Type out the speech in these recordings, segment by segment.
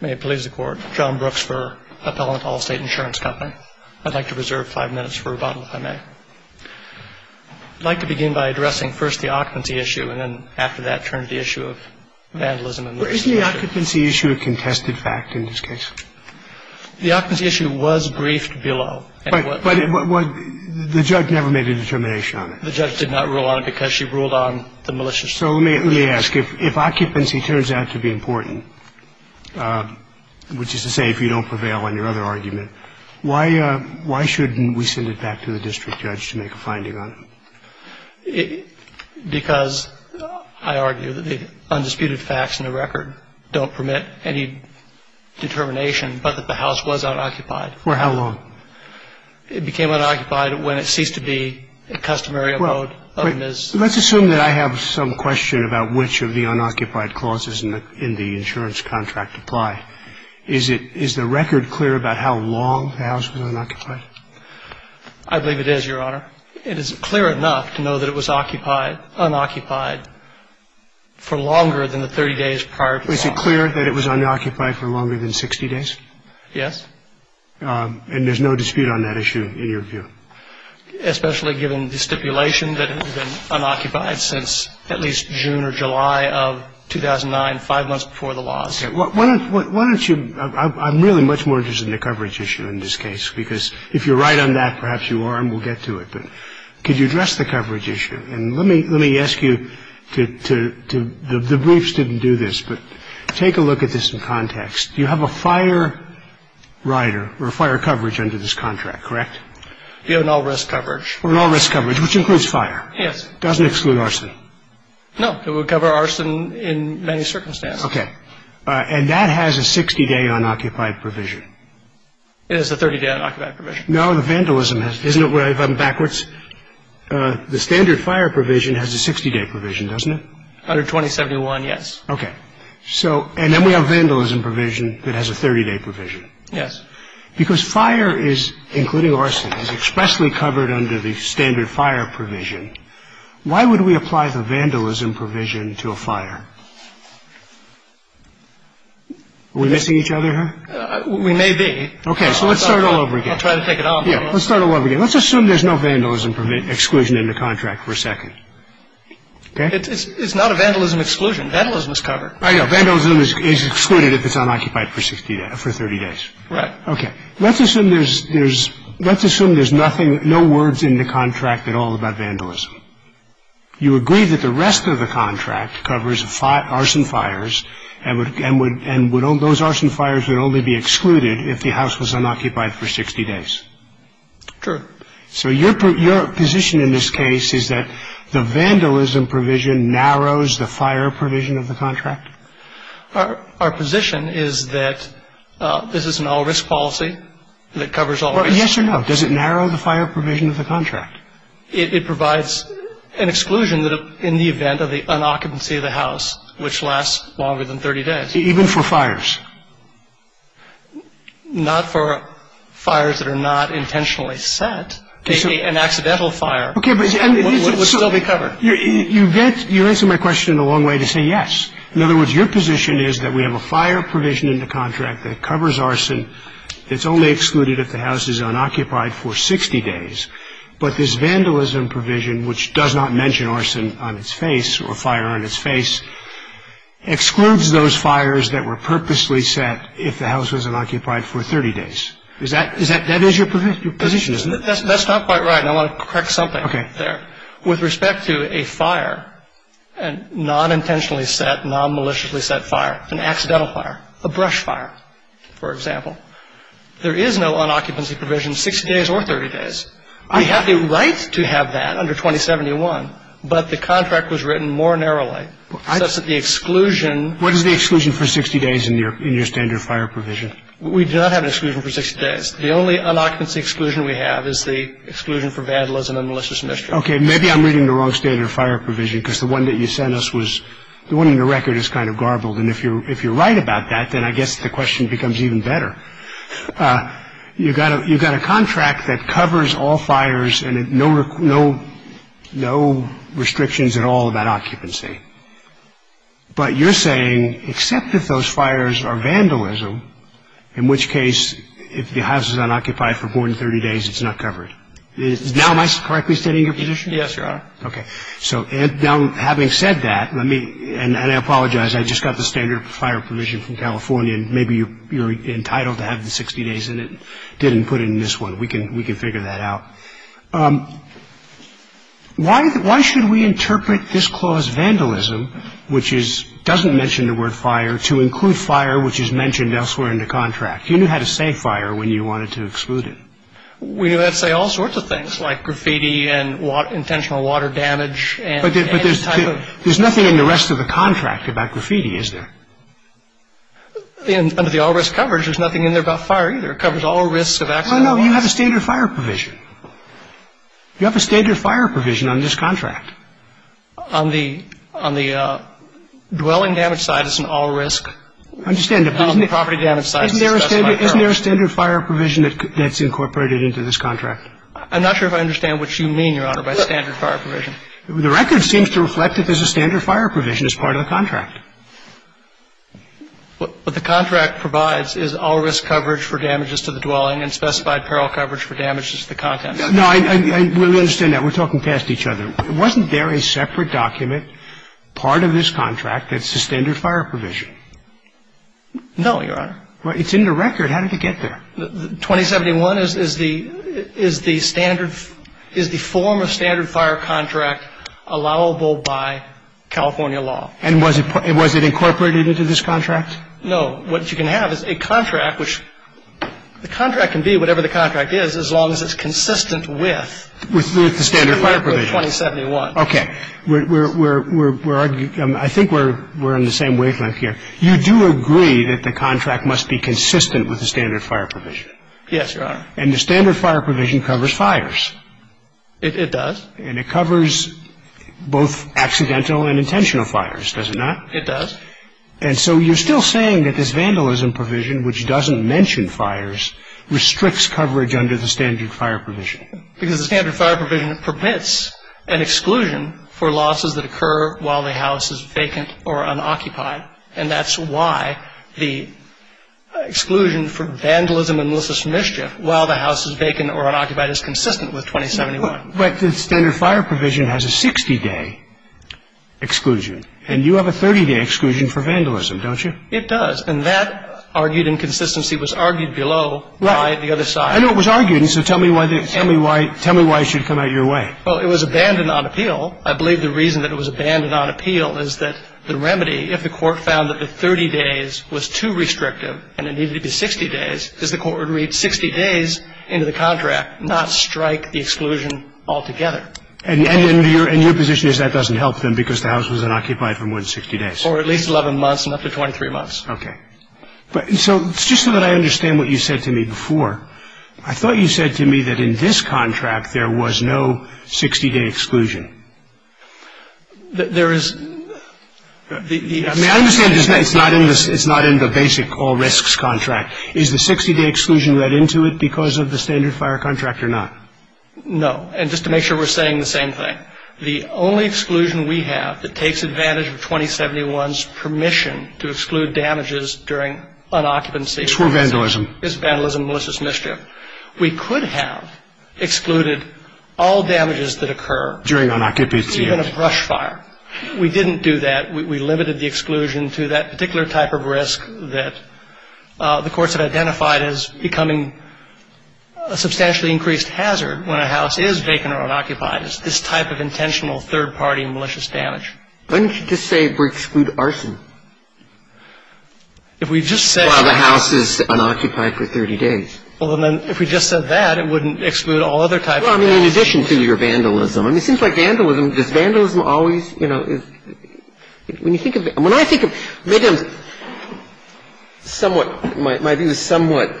May it please the court. John Brooks for Appellant Allstate Insurance Company. I'd like to reserve five minutes for rebuttal if I may. I'd like to begin by addressing first the occupancy issue and then after that turn to the issue of vandalism. Isn't the occupancy issue a contested fact in this case? The occupancy issue was briefed below. But the judge never made a determination on it. The judge did not rule on it because she ruled on the maliciousness. So let me ask, if occupancy turns out to be important, which is to say if you don't prevail on your other argument, why shouldn't we send it back to the district judge to make a finding on it? Because I argue that the undisputed facts in the record don't permit any determination, but that the house was unoccupied. For how long? It became unoccupied when it ceased to be a customary abode of Ms. Let's assume that I have some question about which of the unoccupied clauses in the insurance contract apply. Is it is the record clear about how long the house was unoccupied? I believe it is, Your Honor. It is clear enough to know that it was occupied, unoccupied for longer than the 30 days prior. Is it clear that it was unoccupied for longer than 60 days? Yes. And there's no dispute on that issue in your view? Especially given the stipulation that it had been unoccupied since at least June or July of 2009, five months before the laws. Okay. Why don't you – I'm really much more interested in the coverage issue in this case, because if you're right on that, perhaps you are, and we'll get to it. But could you address the coverage issue? And let me ask you to – the briefs didn't do this, but take a look at this in context. You have a fire rider or a fire coverage under this contract, correct? You have no risk coverage. No risk coverage, which includes fire. Yes. Doesn't exclude arson. No. It would cover arson in many circumstances. Okay. And that has a 60-day unoccupied provision. It has a 30-day unoccupied provision. No, the vandalism has – isn't it where I've gone backwards? The standard fire provision has a 60-day provision, doesn't it? Under 2071, yes. Okay. So – and then we have vandalism provision that has a 30-day provision. Yes. Because fire is – including arson – is expressly covered under the standard fire provision, why would we apply the vandalism provision to a fire? Are we missing each other here? We may be. Okay. So let's start all over again. I'll try to take it on. Yeah. Let's start all over again. Let's assume there's no vandalism exclusion in the contract for a second. Okay? It's not a vandalism exclusion. Vandalism is covered. I know. Vandalism is excluded if it's unoccupied for 60 – for 30 days. Right. Okay. Let's assume there's – there's – let's assume there's nothing – no words in the contract at all about vandalism. You agree that the rest of the contract covers arson fires and would – and would – and would all those arson fires would only be excluded if the house was unoccupied for 60 days. Sure. So your position in this case is that the vandalism provision narrows the fire provision of the contract? Our position is that this is an all-risk policy that covers all risks. Well, yes or no? Does it narrow the fire provision of the contract? It provides an exclusion in the event of the unoccupancy of the house, which lasts longer than 30 days. Even for fires? Not for fires that are not intentionally set. An accidental fire would still be covered. You get – you answer my question in a long way to say yes. In other words, your position is that we have a fire provision in the contract that covers arson. It's only excluded if the house is unoccupied for 60 days. But this vandalism provision, which does not mention arson on its face or fire on its face, excludes those fires that were purposely set if the house was unoccupied for 30 days. Is that – is that – that is your position, isn't it? That's not quite right, and I want to correct something there. Okay. With respect to a fire, a non-intentionally set, non-maliciously set fire, an accidental fire, a brush fire, for example, there is no unoccupancy provision 60 days or 30 days. We have a right to have that under 2071, but the contract was written more narrowly, such that the exclusion – What is the exclusion for 60 days in your standard fire provision? We do not have an exclusion for 60 days. The only unoccupancy exclusion we have is the exclusion for vandalism and malicious mischief. Okay. Maybe I'm reading the wrong standard fire provision, because the one that you sent us was – the one in the record is kind of garbled, and if you're – if you're right about that, then I guess the question becomes even better. You've got a – you've got a contract that covers all fires and no – no – no restrictions at all about occupancy. But you're saying, except if those fires are vandalism, in which case, if the house is unoccupied for more than 30 days, it's not covered. Now, am I correctly stating your position? Yes, Your Honor. Okay. So now, having said that, let me – and I apologize. I just got the standard fire provision from California. Maybe you're entitled to have the 60 days in it. Didn't put it in this one. We can – we can figure that out. Why – why should we interpret this clause, vandalism, which is – doesn't mention the word fire, to include fire which is mentioned elsewhere in the contract? You knew how to say fire when you wanted to exclude it. We knew how to say all sorts of things, like graffiti and intentional water damage and any type of – But there's – there's nothing in the rest of the contract about graffiti, is there? Under the all-risk coverage, there's nothing in there about fire either. It covers all risks of accidental – No, no. You have a standard fire provision. You have a standard fire provision on this contract. On the – on the dwelling damage side, it's an all-risk. I understand that, but isn't it – On the property damage side, it's best to be careful. Isn't there a standard fire provision that's incorporated into this contract? I'm not sure if I understand what you mean, Your Honor, by standard fire provision. The record seems to reflect that there's a standard fire provision as part of the contract. What the contract provides is all-risk coverage for damages to the dwelling and specified peril coverage for damages to the content. No, I really understand that. We're talking past each other. Wasn't there a separate document, part of this contract, that's a standard fire provision? No, Your Honor. Well, it's in the record. How did it get there? 2071 is the – is the standard – is the form of standard fire contract allowable by California law. And was it – was it incorporated into this contract? No. What you can have is a contract which – the contract can be whatever the contract is, as long as it's consistent with – With the standard fire provision. With 2071. Okay. We're – I think we're on the same wavelength here. You do agree that the contract must be consistent with the standard fire provision. Yes, Your Honor. And the standard fire provision covers fires. It does. And it covers both accidental and intentional fires, does it not? It does. And so you're still saying that this vandalism provision, which doesn't mention fires, restricts coverage under the standard fire provision. Because the standard fire provision permits an exclusion for losses that occur while the house is vacant or unoccupied. And that's why the exclusion for vandalism and malicious mischief while the house is vacant or unoccupied is consistent with 2071. But the standard fire provision has a 60-day exclusion. And you have a 30-day exclusion for vandalism, don't you? It does. And that argued inconsistency was argued below by the other side. I know it was argued. And so tell me why – tell me why it should come out your way. Well, it was abandoned on appeal. I believe the reason that it was abandoned on appeal is that the remedy, if the court found that the 30 days was too restrictive and it needed to be 60 days, is the court would read 60 days into the contract, not strike the exclusion altogether. And your position is that doesn't help them because the house was unoccupied for more than 60 days. Or at least 11 months and up to 23 months. Okay. So just so that I understand what you said to me before, I thought you said to me that in this contract there was no 60-day exclusion. There is – May I understand this? It's not in the basic all risks contract. Is the 60-day exclusion read into it because of the standard fire contract or not? No. And just to make sure we're saying the same thing, the only exclusion we have that takes advantage of 2071's permission to exclude damages during unoccupancy It's for vandalism. It's vandalism, malicious mischief. We could have excluded all damages that occur during unoccupancy, even a brush fire. We didn't do that. We limited the exclusion to that particular type of risk that the courts have identified as becoming a substantially increased hazard when a house is vacant or unoccupied. It's this type of intentional third-party malicious damage. Why don't you just say we exclude arson? If we just say – If the house is unoccupied for 30 days. Well, then if we just said that, it wouldn't exclude all other types of – Well, I mean, in addition to your vandalism. I mean, it seems like vandalism – does vandalism always, you know – When you think of – when I think of – somewhat – my view is somewhat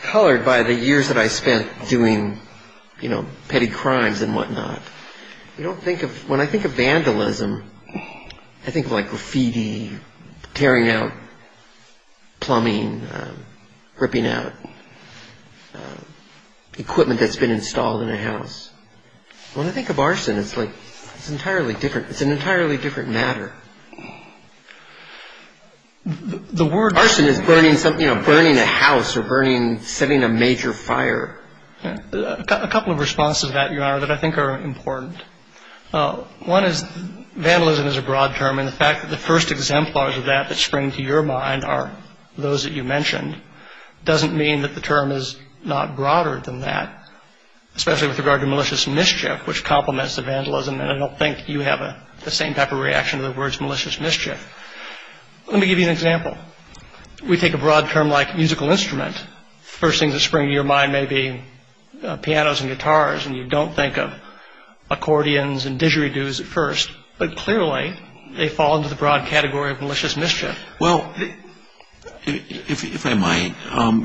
colored by the years that I spent doing, you know, petty crimes and whatnot. You don't think of – when I think of vandalism, I think of like graffiti, tearing out plumbing, ripping out equipment that's been installed in a house. When I think of arson, it's like – it's entirely different. It's an entirely different matter. The word – Arson is burning something – you know, burning a house or burning – setting a major fire. A couple of responses to that, Your Honor, that I think are important. One is vandalism is a broad term. And the fact that the first exemplars of that that spring to your mind are those that you mentioned doesn't mean that the term is not broader than that, especially with regard to malicious mischief, which complements the vandalism. And I don't think you have the same type of reaction to the words malicious mischief. Let me give you an example. We take a broad term like musical instrument. The first thing that springs to your mind may be pianos and guitars, and you don't think of accordions and didgeridoos at first. But clearly, they fall into the broad category of malicious mischief. Well, if I might,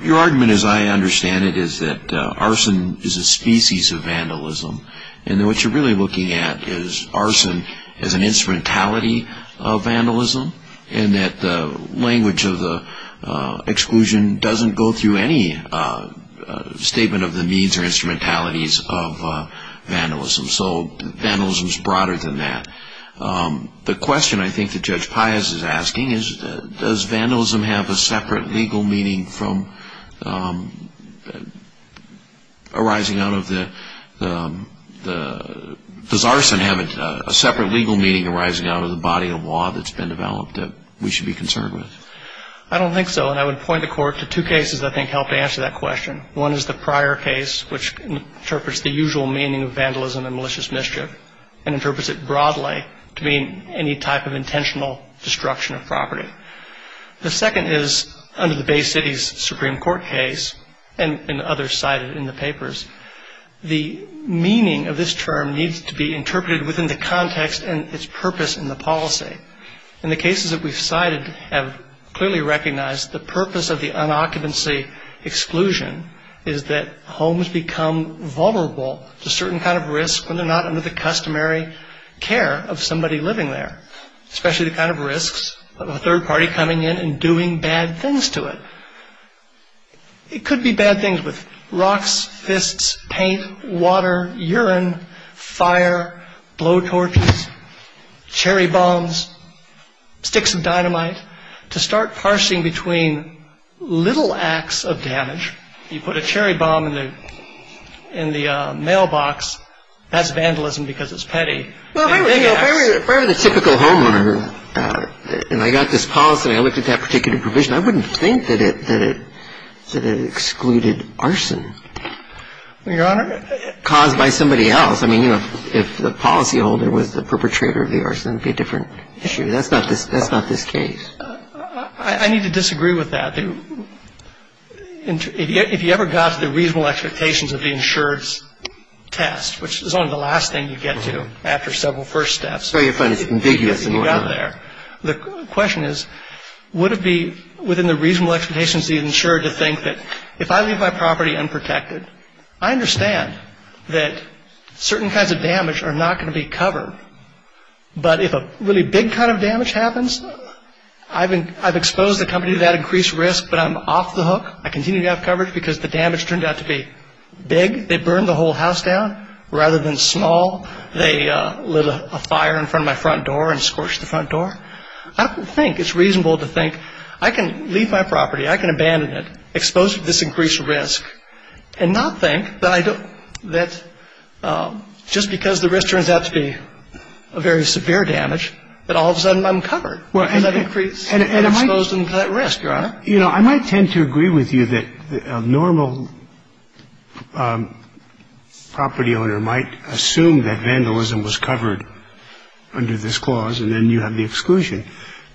your argument, as I understand it, is that arson is a species of vandalism. And what you're really looking at is arson as an instrumentality of vandalism, and that the language of the exclusion doesn't go through any statement of the means or instrumentalities of vandalism. So vandalism is broader than that. The question I think that Judge Pius is asking is, does arson have a separate legal meaning arising out of the body of law that's been developed that we should be concerned with? I don't think so, and I would point the Court to two cases that I think help answer that question. One is the prior case, which interprets the usual meaning of vandalism and malicious mischief and interprets it broadly to mean any type of intentional destruction of property. The second is under the Bay City's Supreme Court case and others cited in the papers. The meaning of this term needs to be interpreted within the context and its purpose in the policy. In the cases that we've cited have clearly recognized the purpose of the unoccupancy exclusion is that homes become vulnerable to certain kind of risks when they're not under the customary care of somebody living there, especially the kind of risks of a third party coming in and doing bad things to it. It could be bad things with rocks, fists, paint, water, urine, fire, blow torches, cherry bombs, sticks of dynamite. To start parsing between little acts of damage, you put a cherry bomb in the mailbox, that's vandalism because it's petty. Well, if I were the typical homeowner and I got this policy and I looked at that particular provision, I wouldn't think that it excluded arson caused by somebody else. I mean, you know, if the policyholder was the perpetrator of the arson, it would be a different issue. That's not this case. I need to disagree with that. If you ever got to the reasonable expectations of the insurance test, which is only the last thing you get to after several first steps. So you find it ambiguous when you get there. The question is, would it be within the reasonable expectations of the insurer to think that if I leave my property unprotected, I understand that certain kinds of damage are not going to be covered. But if a really big kind of damage happens, I've exposed the company to that increased risk, but I'm off the hook. I continue to have coverage because the damage turned out to be big. They burned the whole house down. Rather than small, they lit a fire in front of my front door and scorched the front door. I don't think it's reasonable to think I can leave my property, I can abandon it, exposed to this increased risk, and not think that just because the risk turns out to be a very severe damage, that all of a sudden I'm covered because I've increased and exposed them to that risk, Your Honor. You know, I might tend to agree with you that a normal property owner might assume that vandalism was covered under this clause, and then you have the exclusion.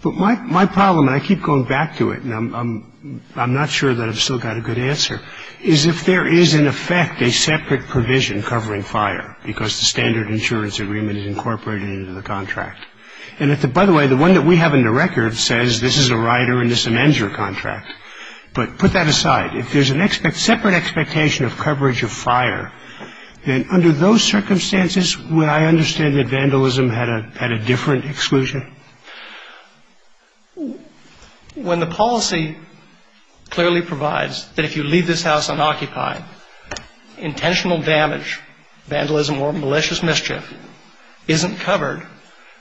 But my problem, and I keep going back to it, and I'm not sure that I've still got a good answer, is if there is in effect a separate provision covering fire because the standard insurance agreement is incorporated into the contract. And by the way, the one that we have in the record says this is a rider and this amends your contract. But put that aside. If there's a separate expectation of coverage of fire, then under those circumstances, would I understand that vandalism had a different exclusion? When the policy clearly provides that if you leave this house unoccupied, intentional damage, vandalism, or malicious mischief isn't covered,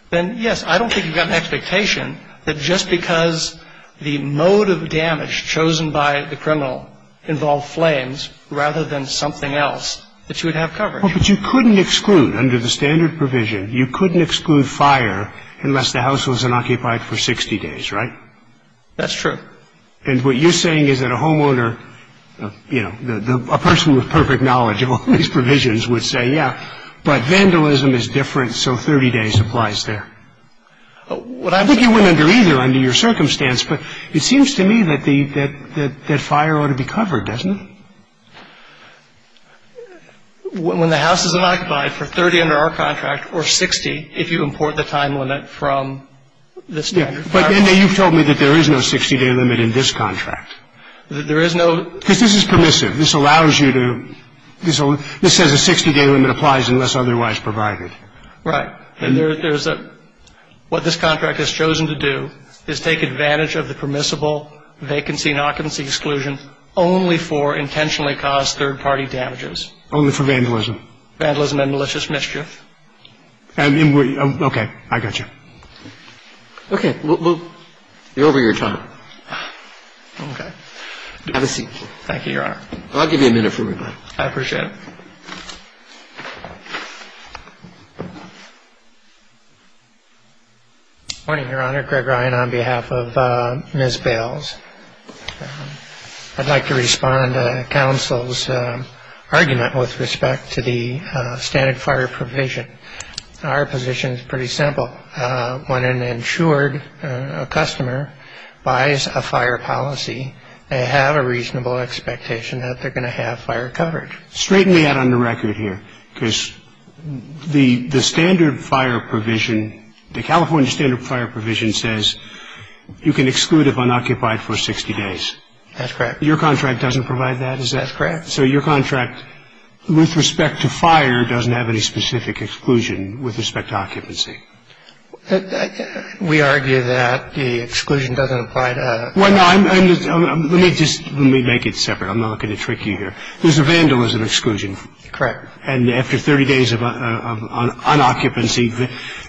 then, yes, I don't think you've got an expectation that just because the mode of damage chosen by the criminal involved flames, rather than something else, that you would have coverage. But you couldn't exclude, under the standard provision, you couldn't exclude fire unless the house was unoccupied for 60 days, right? That's true. And what you're saying is that a homeowner, you know, a person with perfect knowledge of all these provisions would say, yeah, but vandalism is different, so 30 days applies there. I think you wouldn't under either under your circumstance, but it seems to me that fire ought to be covered, doesn't it? When the house is unoccupied for 30 under our contract, or 60 if you import the time limit from the standard fire law. But you've told me that there is no 60-day limit in this contract. There is no. Because this is permissive. This allows you to, this says a 60-day limit applies unless otherwise provided. Right. And there's a, what this contract has chosen to do is take advantage of the permissible vacancy and occupancy exclusion only for intentionally caused third-party damages. Only for vandalism. Vandalism and malicious mischief. Okay. I got you. Okay. We're over your time. Okay. Have a seat. Thank you, Your Honor. I'll give you a minute for reply. I appreciate it. Good morning, Your Honor. Greg Ryan on behalf of Ms. Bales. I'd like to respond to counsel's argument with respect to the standard fire provision. Our position is pretty simple. When an insured customer buys a fire policy, they have a reasonable expectation that they're going to have fire coverage. Straighten me out on the record here. Because the standard fire provision, the California standard fire provision, says you can exclude if unoccupied for 60 days. That's correct. Your contract doesn't provide that? That's correct. So your contract, with respect to fire, doesn't have any specific exclusion with respect to occupancy? We argue that the exclusion doesn't apply to that. Well, no. Let me just make it separate. I'm not going to trick you here. There's a vandalism exclusion. Correct. And after 30 days of unoccupancy,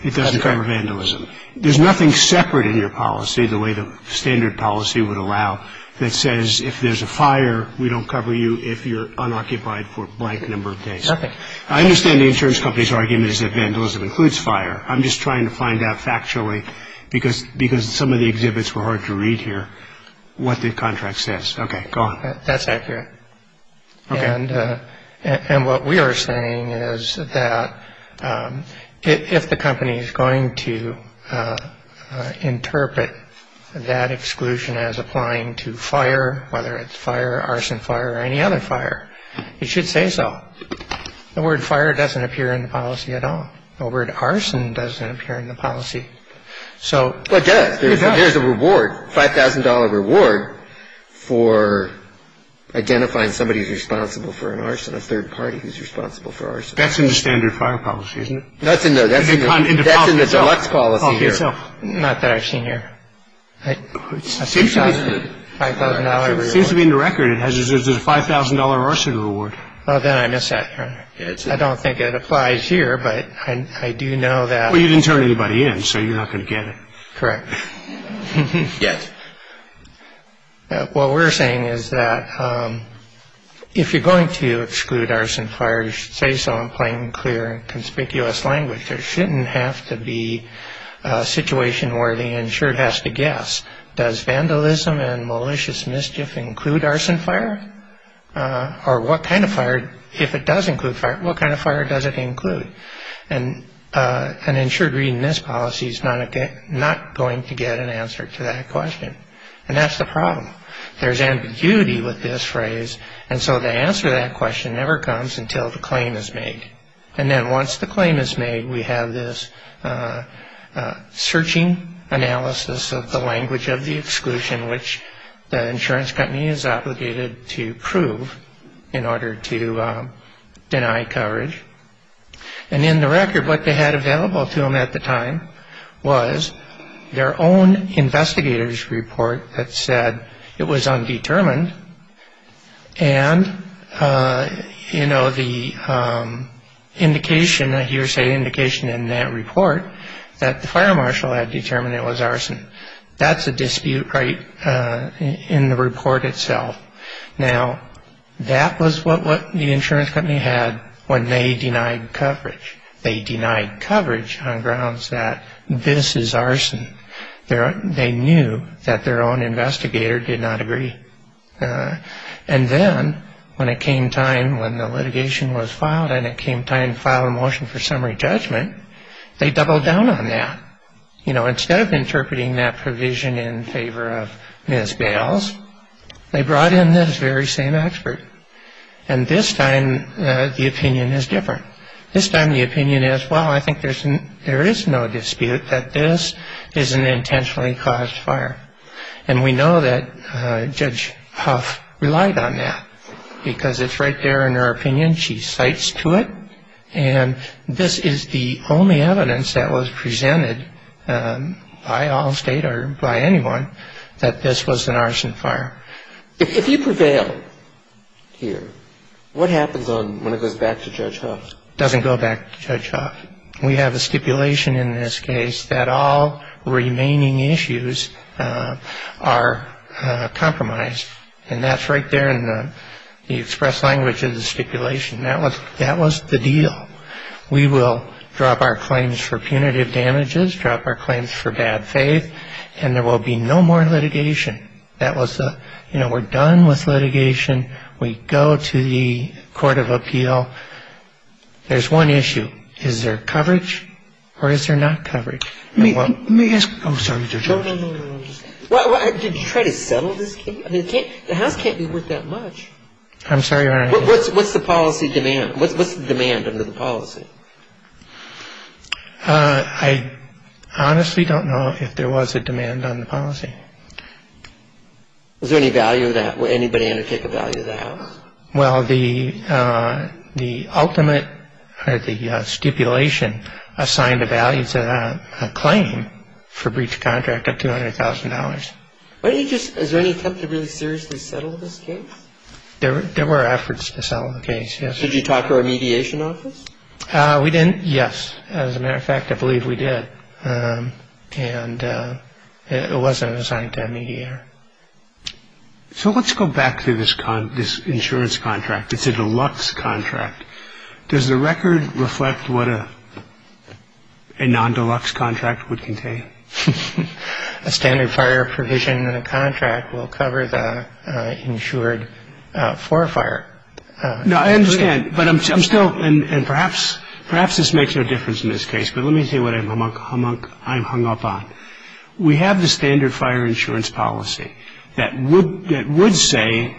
it doesn't cover vandalism. There's nothing separate in your policy, the way the standard policy would allow, that says if there's a fire, we don't cover you if you're unoccupied for a blank number of days. Nothing. I understand the insurance company's argument is that vandalism includes fire. I'm just trying to find out factually, because some of the exhibits were hard to read here, what the contract says. Okay, go on. That's accurate. Okay. And what we are saying is that if the company is going to interpret that exclusion as applying to fire, whether it's fire, arson fire, or any other fire, it should say so. The word fire doesn't appear in the policy at all. The word arson doesn't appear in the policy. Well, it does. There's a reward, $5,000 reward, for identifying somebody who's responsible for an arson, a third party who's responsible for arson. That's in the standard fire policy, isn't it? No, that's in the deluxe policy here. Not that I've seen here. $5,000 reward. It seems to me in the record it has a $5,000 arson reward. Well, then I miss that. I don't think it applies here, but I do know that. Well, you didn't turn anybody in, so you're not going to get it. Correct. Yes. What we're saying is that if you're going to exclude arson fire, you should say so in plain, clear, and conspicuous language. There shouldn't have to be a situation where the insured has to guess, does vandalism and malicious mischief include arson fire? Or what kind of fire, if it does include fire, what kind of fire does it include? An insured reading this policy is not going to get an answer to that question, and that's the problem. There's ambiguity with this phrase, and so the answer to that question never comes until the claim is made. And then once the claim is made, we have this searching analysis of the language of the exclusion, which the insurance company is obligated to prove in order to deny coverage. And in the record, what they had available to them at the time was their own investigator's report that said it was undetermined, and, you know, the indication, a hearsay indication in that report, that the fire marshal had determined it was arson. That's a dispute right in the report itself. Now, that was what the insurance company had when they denied coverage. They denied coverage on grounds that this is arson. They knew that their own investigator did not agree. And then when it came time, when the litigation was filed and it came time to file a motion for summary judgment, they doubled down on that. You know, instead of interpreting that provision in favor of Ms. Bales, they brought in this very same expert. And this time the opinion is different. This time the opinion is, well, I think there is no dispute that this is an intentionally caused fire. And we know that Judge Huff relied on that because it's right there in her opinion. She cites to it. And this is the only evidence that was presented by Allstate or by anyone that this was an arson fire. If you prevail here, what happens when it goes back to Judge Huff? It doesn't go back to Judge Huff. We have a stipulation in this case that all remaining issues are compromised. And that's right there in the express language of the stipulation. That was the deal. We will drop our claims for punitive damages, drop our claims for bad faith, and there will be no more litigation. That was the, you know, we're done with litigation. We go to the court of appeal. There's one issue. Is there coverage or is there not coverage? Let me ask. I'm sorry, Mr. George. No, no, no. Did you try to settle this case? I mean, the house can't be worth that much. I'm sorry, Your Honor. What's the policy demand? What's the demand under the policy? I honestly don't know if there was a demand on the policy. Is there any value of that? Would anybody undertake a value of that? Well, the ultimate or the stipulation assigned a value to that claim for breach of contract of $200,000. Why don't you just, is there any attempt to really seriously settle this case? There were efforts to settle the case, yes. Did you talk to our mediation office? We didn't, yes. As a matter of fact, I believe we did. And it wasn't assigned to a mediator. So let's go back to this insurance contract. It's a deluxe contract. Does the record reflect what a non-deluxe contract would contain? A standard fire provision in a contract will cover the insured for fire. No, I understand, but I'm still, and perhaps this makes no difference in this case, but let me say what I'm hung up on. We have the standard fire insurance policy that would say,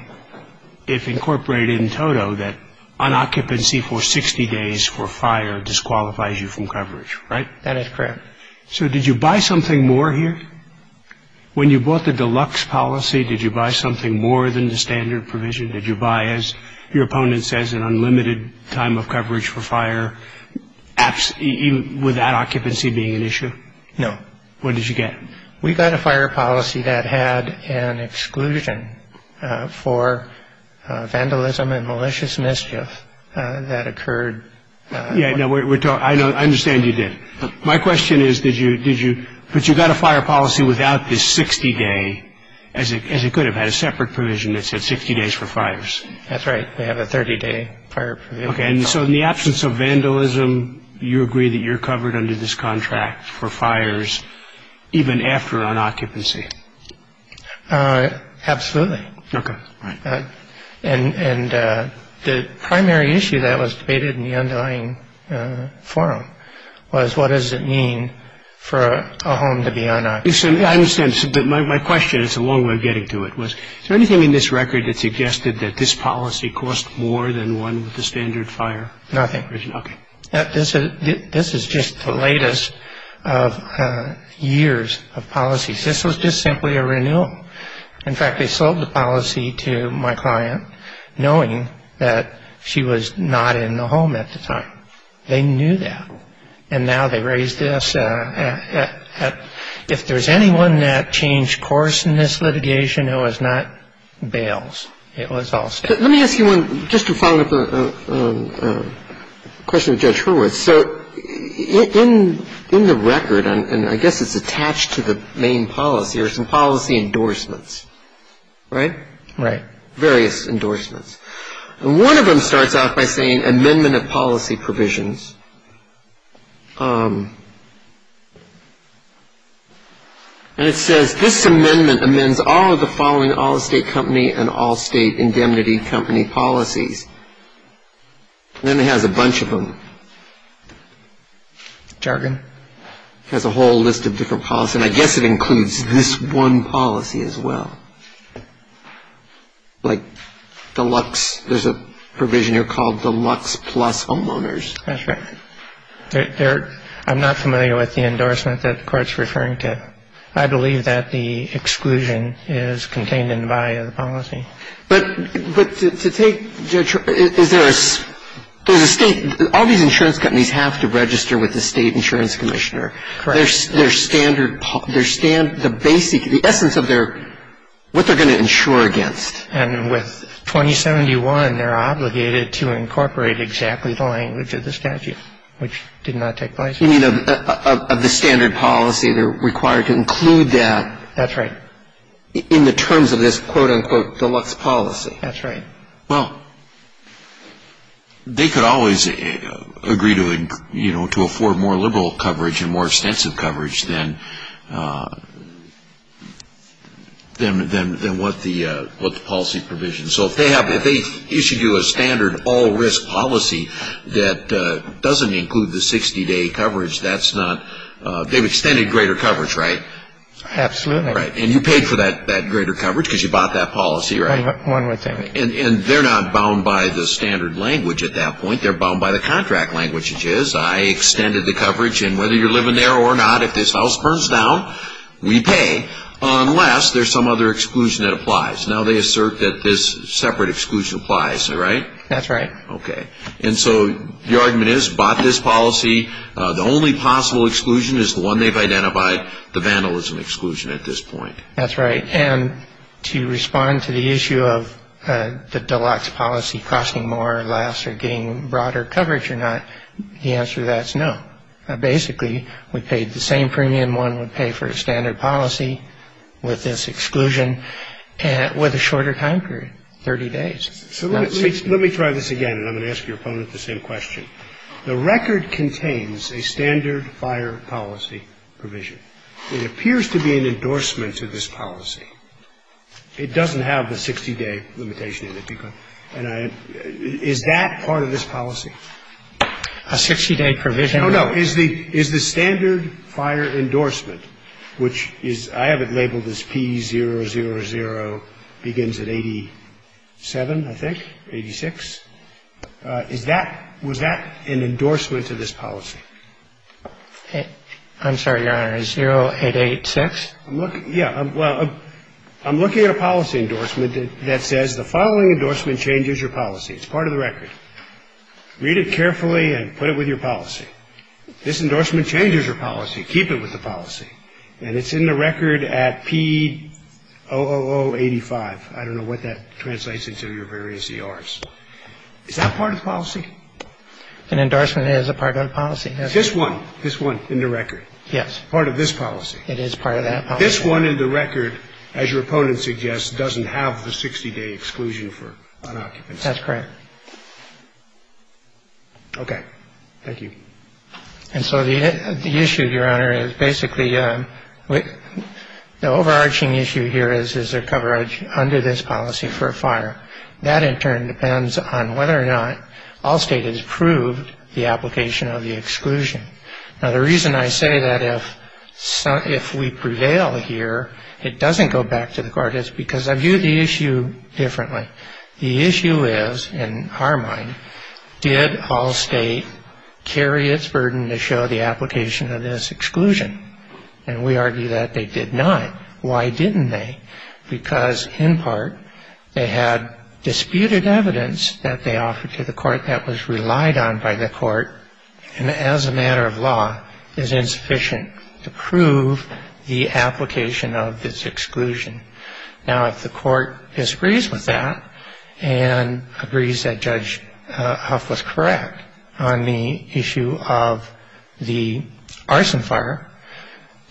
if incorporated in toto, that an occupancy for 60 days for fire disqualifies you from coverage, right? That is correct. So did you buy something more here? When you bought the deluxe policy, did you buy something more than the standard provision? Did you buy, as your opponent says, an unlimited time of coverage for fire, even with that occupancy being an issue? No. What did you get? We got a fire policy that had an exclusion for vandalism and malicious mischief that occurred. Yeah, no, I understand you did. My question is, did you, but you got a fire policy without the 60-day, as it could have had a separate provision that said 60 days for fires. That's right. We have a 30-day fire provision. Okay, and so in the absence of vandalism, you agree that you're covered under this contract for fires even after an occupancy? Absolutely. Okay. And the primary issue that was debated in the underlying forum was, what does it mean for a home to be unoccupied? I understand, but my question, and it's a long way of getting to it, was is there anything in this record that suggested that this policy cost more than one with the standard fire? Nothing. Okay. This is just the latest of years of policies. This was just simply a renewal. In fact, they sold the policy to my client knowing that she was not in the home at the time. They knew that. And now they raise this. If there's anyone that changed course in this litigation, it was not Bales. It was Allstate. Let me ask you one, just to follow up a question of Judge Hurwitz. So in the record, and I guess it's attached to the main policy, are some policy endorsements, right? Right. Various endorsements. And one of them starts off by saying, amendment of policy provisions. And it says, this amendment amends all of the following Allstate company and Allstate indemnity company policies. And then it has a bunch of them. Jargon. It has a whole list of different policies. And I guess it includes this one policy as well. Like deluxe, there's a provision here called deluxe plus homeowners. That's right. I'm not familiar with the endorsement that the court's referring to. I believe that the exclusion is contained in the body of the policy. But to take, Judge, is there a state, all these insurance companies have to register with the state insurance commissioner. Correct. Their standard, the basic, the essence of their, what they're going to insure against. And with 2071, they're obligated to incorporate exactly the language of the statute, which did not take place. You mean of the standard policy, they're required to include that. That's right. In the terms of this, quote, unquote, deluxe policy. That's right. Well, they could always agree to, you know, to afford more liberal coverage and more extensive coverage than what the policy provision. So if they have, if they issued you a standard all-risk policy that doesn't include the 60-day coverage, that's not, they've extended greater coverage, right? Absolutely. Right. And you paid for that greater coverage because you bought that policy, right? One would think. And they're not bound by the standard language at that point. They're bound by the contract language, which is, I extended the coverage, and whether you're living there or not, if this house burns down, we pay. Unless there's some other exclusion that applies. Now they assert that this separate exclusion applies, right? That's right. Okay. And so the argument is, bought this policy, the only possible exclusion is the one they've identified, the vandalism exclusion at this point. That's right. And to respond to the issue of the deluxe policy costing more or less or getting broader coverage or not, the answer to that is no. Basically, we paid the same premium one would pay for a standard policy with this exclusion with a shorter time period, 30 days. So let me try this again, and I'm going to ask your opponent the same question. The record contains a standard fire policy provision. It appears to be an endorsement to this policy. It doesn't have the 60-day limitation in it. And is that part of this policy? A 60-day provision? No, no. Is the standard fire endorsement, which is – I have it labeled as P000, begins at 87, I think, 86. Is that – was that an endorsement to this policy? I'm sorry, Your Honor. Is 0886? Yeah. Well, I'm looking at a policy endorsement that says the following endorsement changes your policy. It's part of the record. Read it carefully and put it with your policy. This endorsement changes your policy. Keep it with the policy. And it's in the record at P00085. Is that part of the policy? An endorsement is a part of the policy. Is this one – this one in the record? Yes. Part of this policy? It is part of that policy. This one in the record, as your opponent suggests, doesn't have the 60-day exclusion for unoccupancy. That's correct. Okay. Thank you. And so the issue, Your Honor, is basically – the overarching issue here is is there coverage under this policy for a fire. That, in turn, depends on whether or not Allstate has approved the application of the exclusion. Now, the reason I say that if we prevail here, it doesn't go back to the court. It's because I view the issue differently. The issue is, in our mind, did Allstate carry its burden to show the application of this exclusion? And we argue that they did not. Why didn't they? Because, in part, they had disputed evidence that they offered to the court that was relied on by the court, and as a matter of law, is insufficient to prove the application of this exclusion. Now, if the court disagrees with that and agrees that Judge Huff was correct on the issue of the arson fire,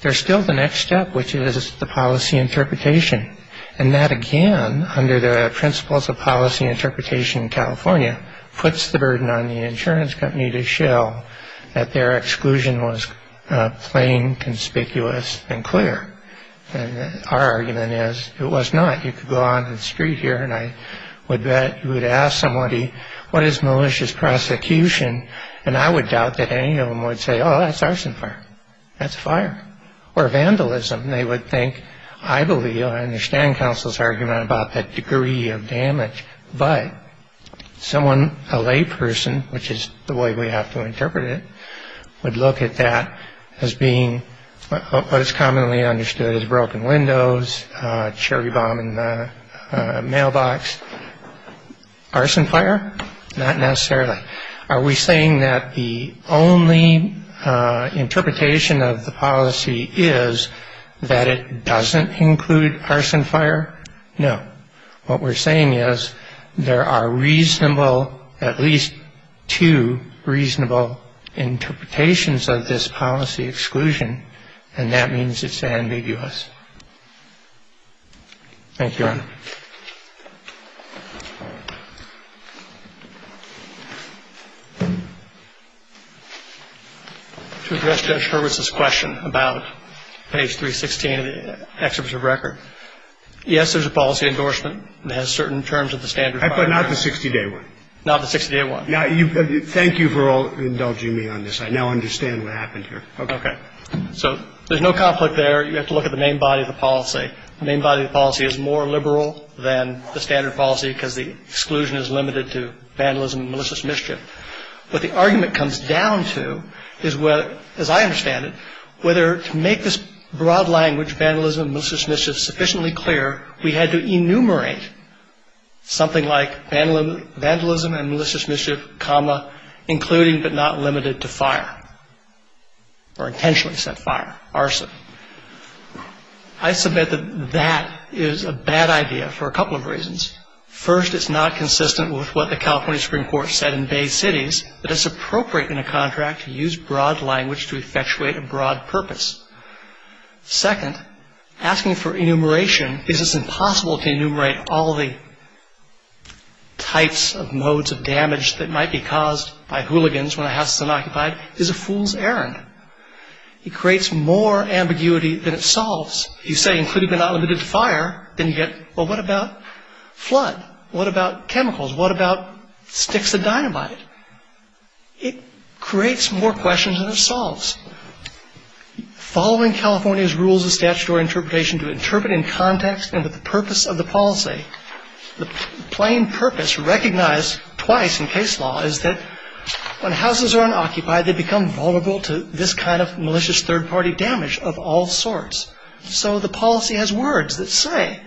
there's still the next step, which is the policy interpretation. And that, again, under the principles of policy interpretation in California, puts the burden on the insurance company to show that their exclusion was plain, conspicuous, and clear. And our argument is it was not. You could go out on the street here, and I would bet you would ask somebody, what is malicious prosecution? And I would doubt that any of them would say, oh, that's arson fire. That's a fire. Or vandalism. They would think, I believe, I understand counsel's argument about that degree of damage. But someone, a layperson, which is the way we have to interpret it, would look at that as being what is commonly understood as broken windows, cherry bombing the mailbox. Arson fire? Not necessarily. Are we saying that the only interpretation of the policy is that it doesn't include arson fire? No. What we're saying is there are reasonable, at least two reasonable, interpretations of this policy exclusion, and that means it's ambiguous. Thank you, Your Honor. To address Judge Hurwitz's question about page 316 of the Exhibit of Record, yes, there's a policy endorsement that has certain terms of the standard of fire. But not the 60-day one. Not the 60-day one. Now, thank you for all indulging me on this. I now understand what happened here. Okay. So there's no conflict there. You have to look at the main body of the policy. The main body of the policy is more liberal than the rest. More liberal than the standard policy because the exclusion is limited to vandalism and malicious mischief. What the argument comes down to is whether, as I understand it, whether to make this broad language, vandalism and malicious mischief, sufficiently clear, we had to enumerate something like vandalism and malicious mischief, comma, including but not limited to fire or intentionally set fire, arson. I submit that that is a bad idea for a couple of reasons. First, it's not consistent with what the California Supreme Court said in Bay Cities that it's appropriate in a contract to use broad language to effectuate a broad purpose. Second, asking for enumeration because it's impossible to enumerate all the types of modes of damage that might be caused by hooligans when a house is unoccupied is a fool's errand. It creates more ambiguity than it solves. If you say including but not limited to fire, then you get, well, what about flood? What about chemicals? What about sticks of dynamite? It creates more questions than it solves. Following California's rules of statutory interpretation to interpret in context and with the purpose of the policy, the plain purpose recognized twice in case law is that when houses are unoccupied, they become vulnerable to this kind of malicious third-party damage of all sorts. So the policy has words that say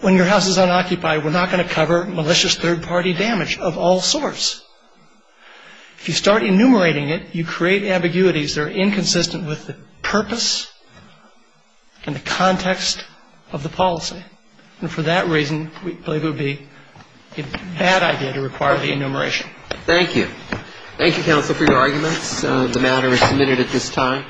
when your house is unoccupied, we're not going to cover malicious third-party damage of all sorts. If you start enumerating it, you create ambiguities that are inconsistent with the purpose and the context of the policy. And for that reason, we believe it would be a bad idea to require the enumeration. Thank you. Thank you, counsel, for your arguments. The matter is submitted at this time.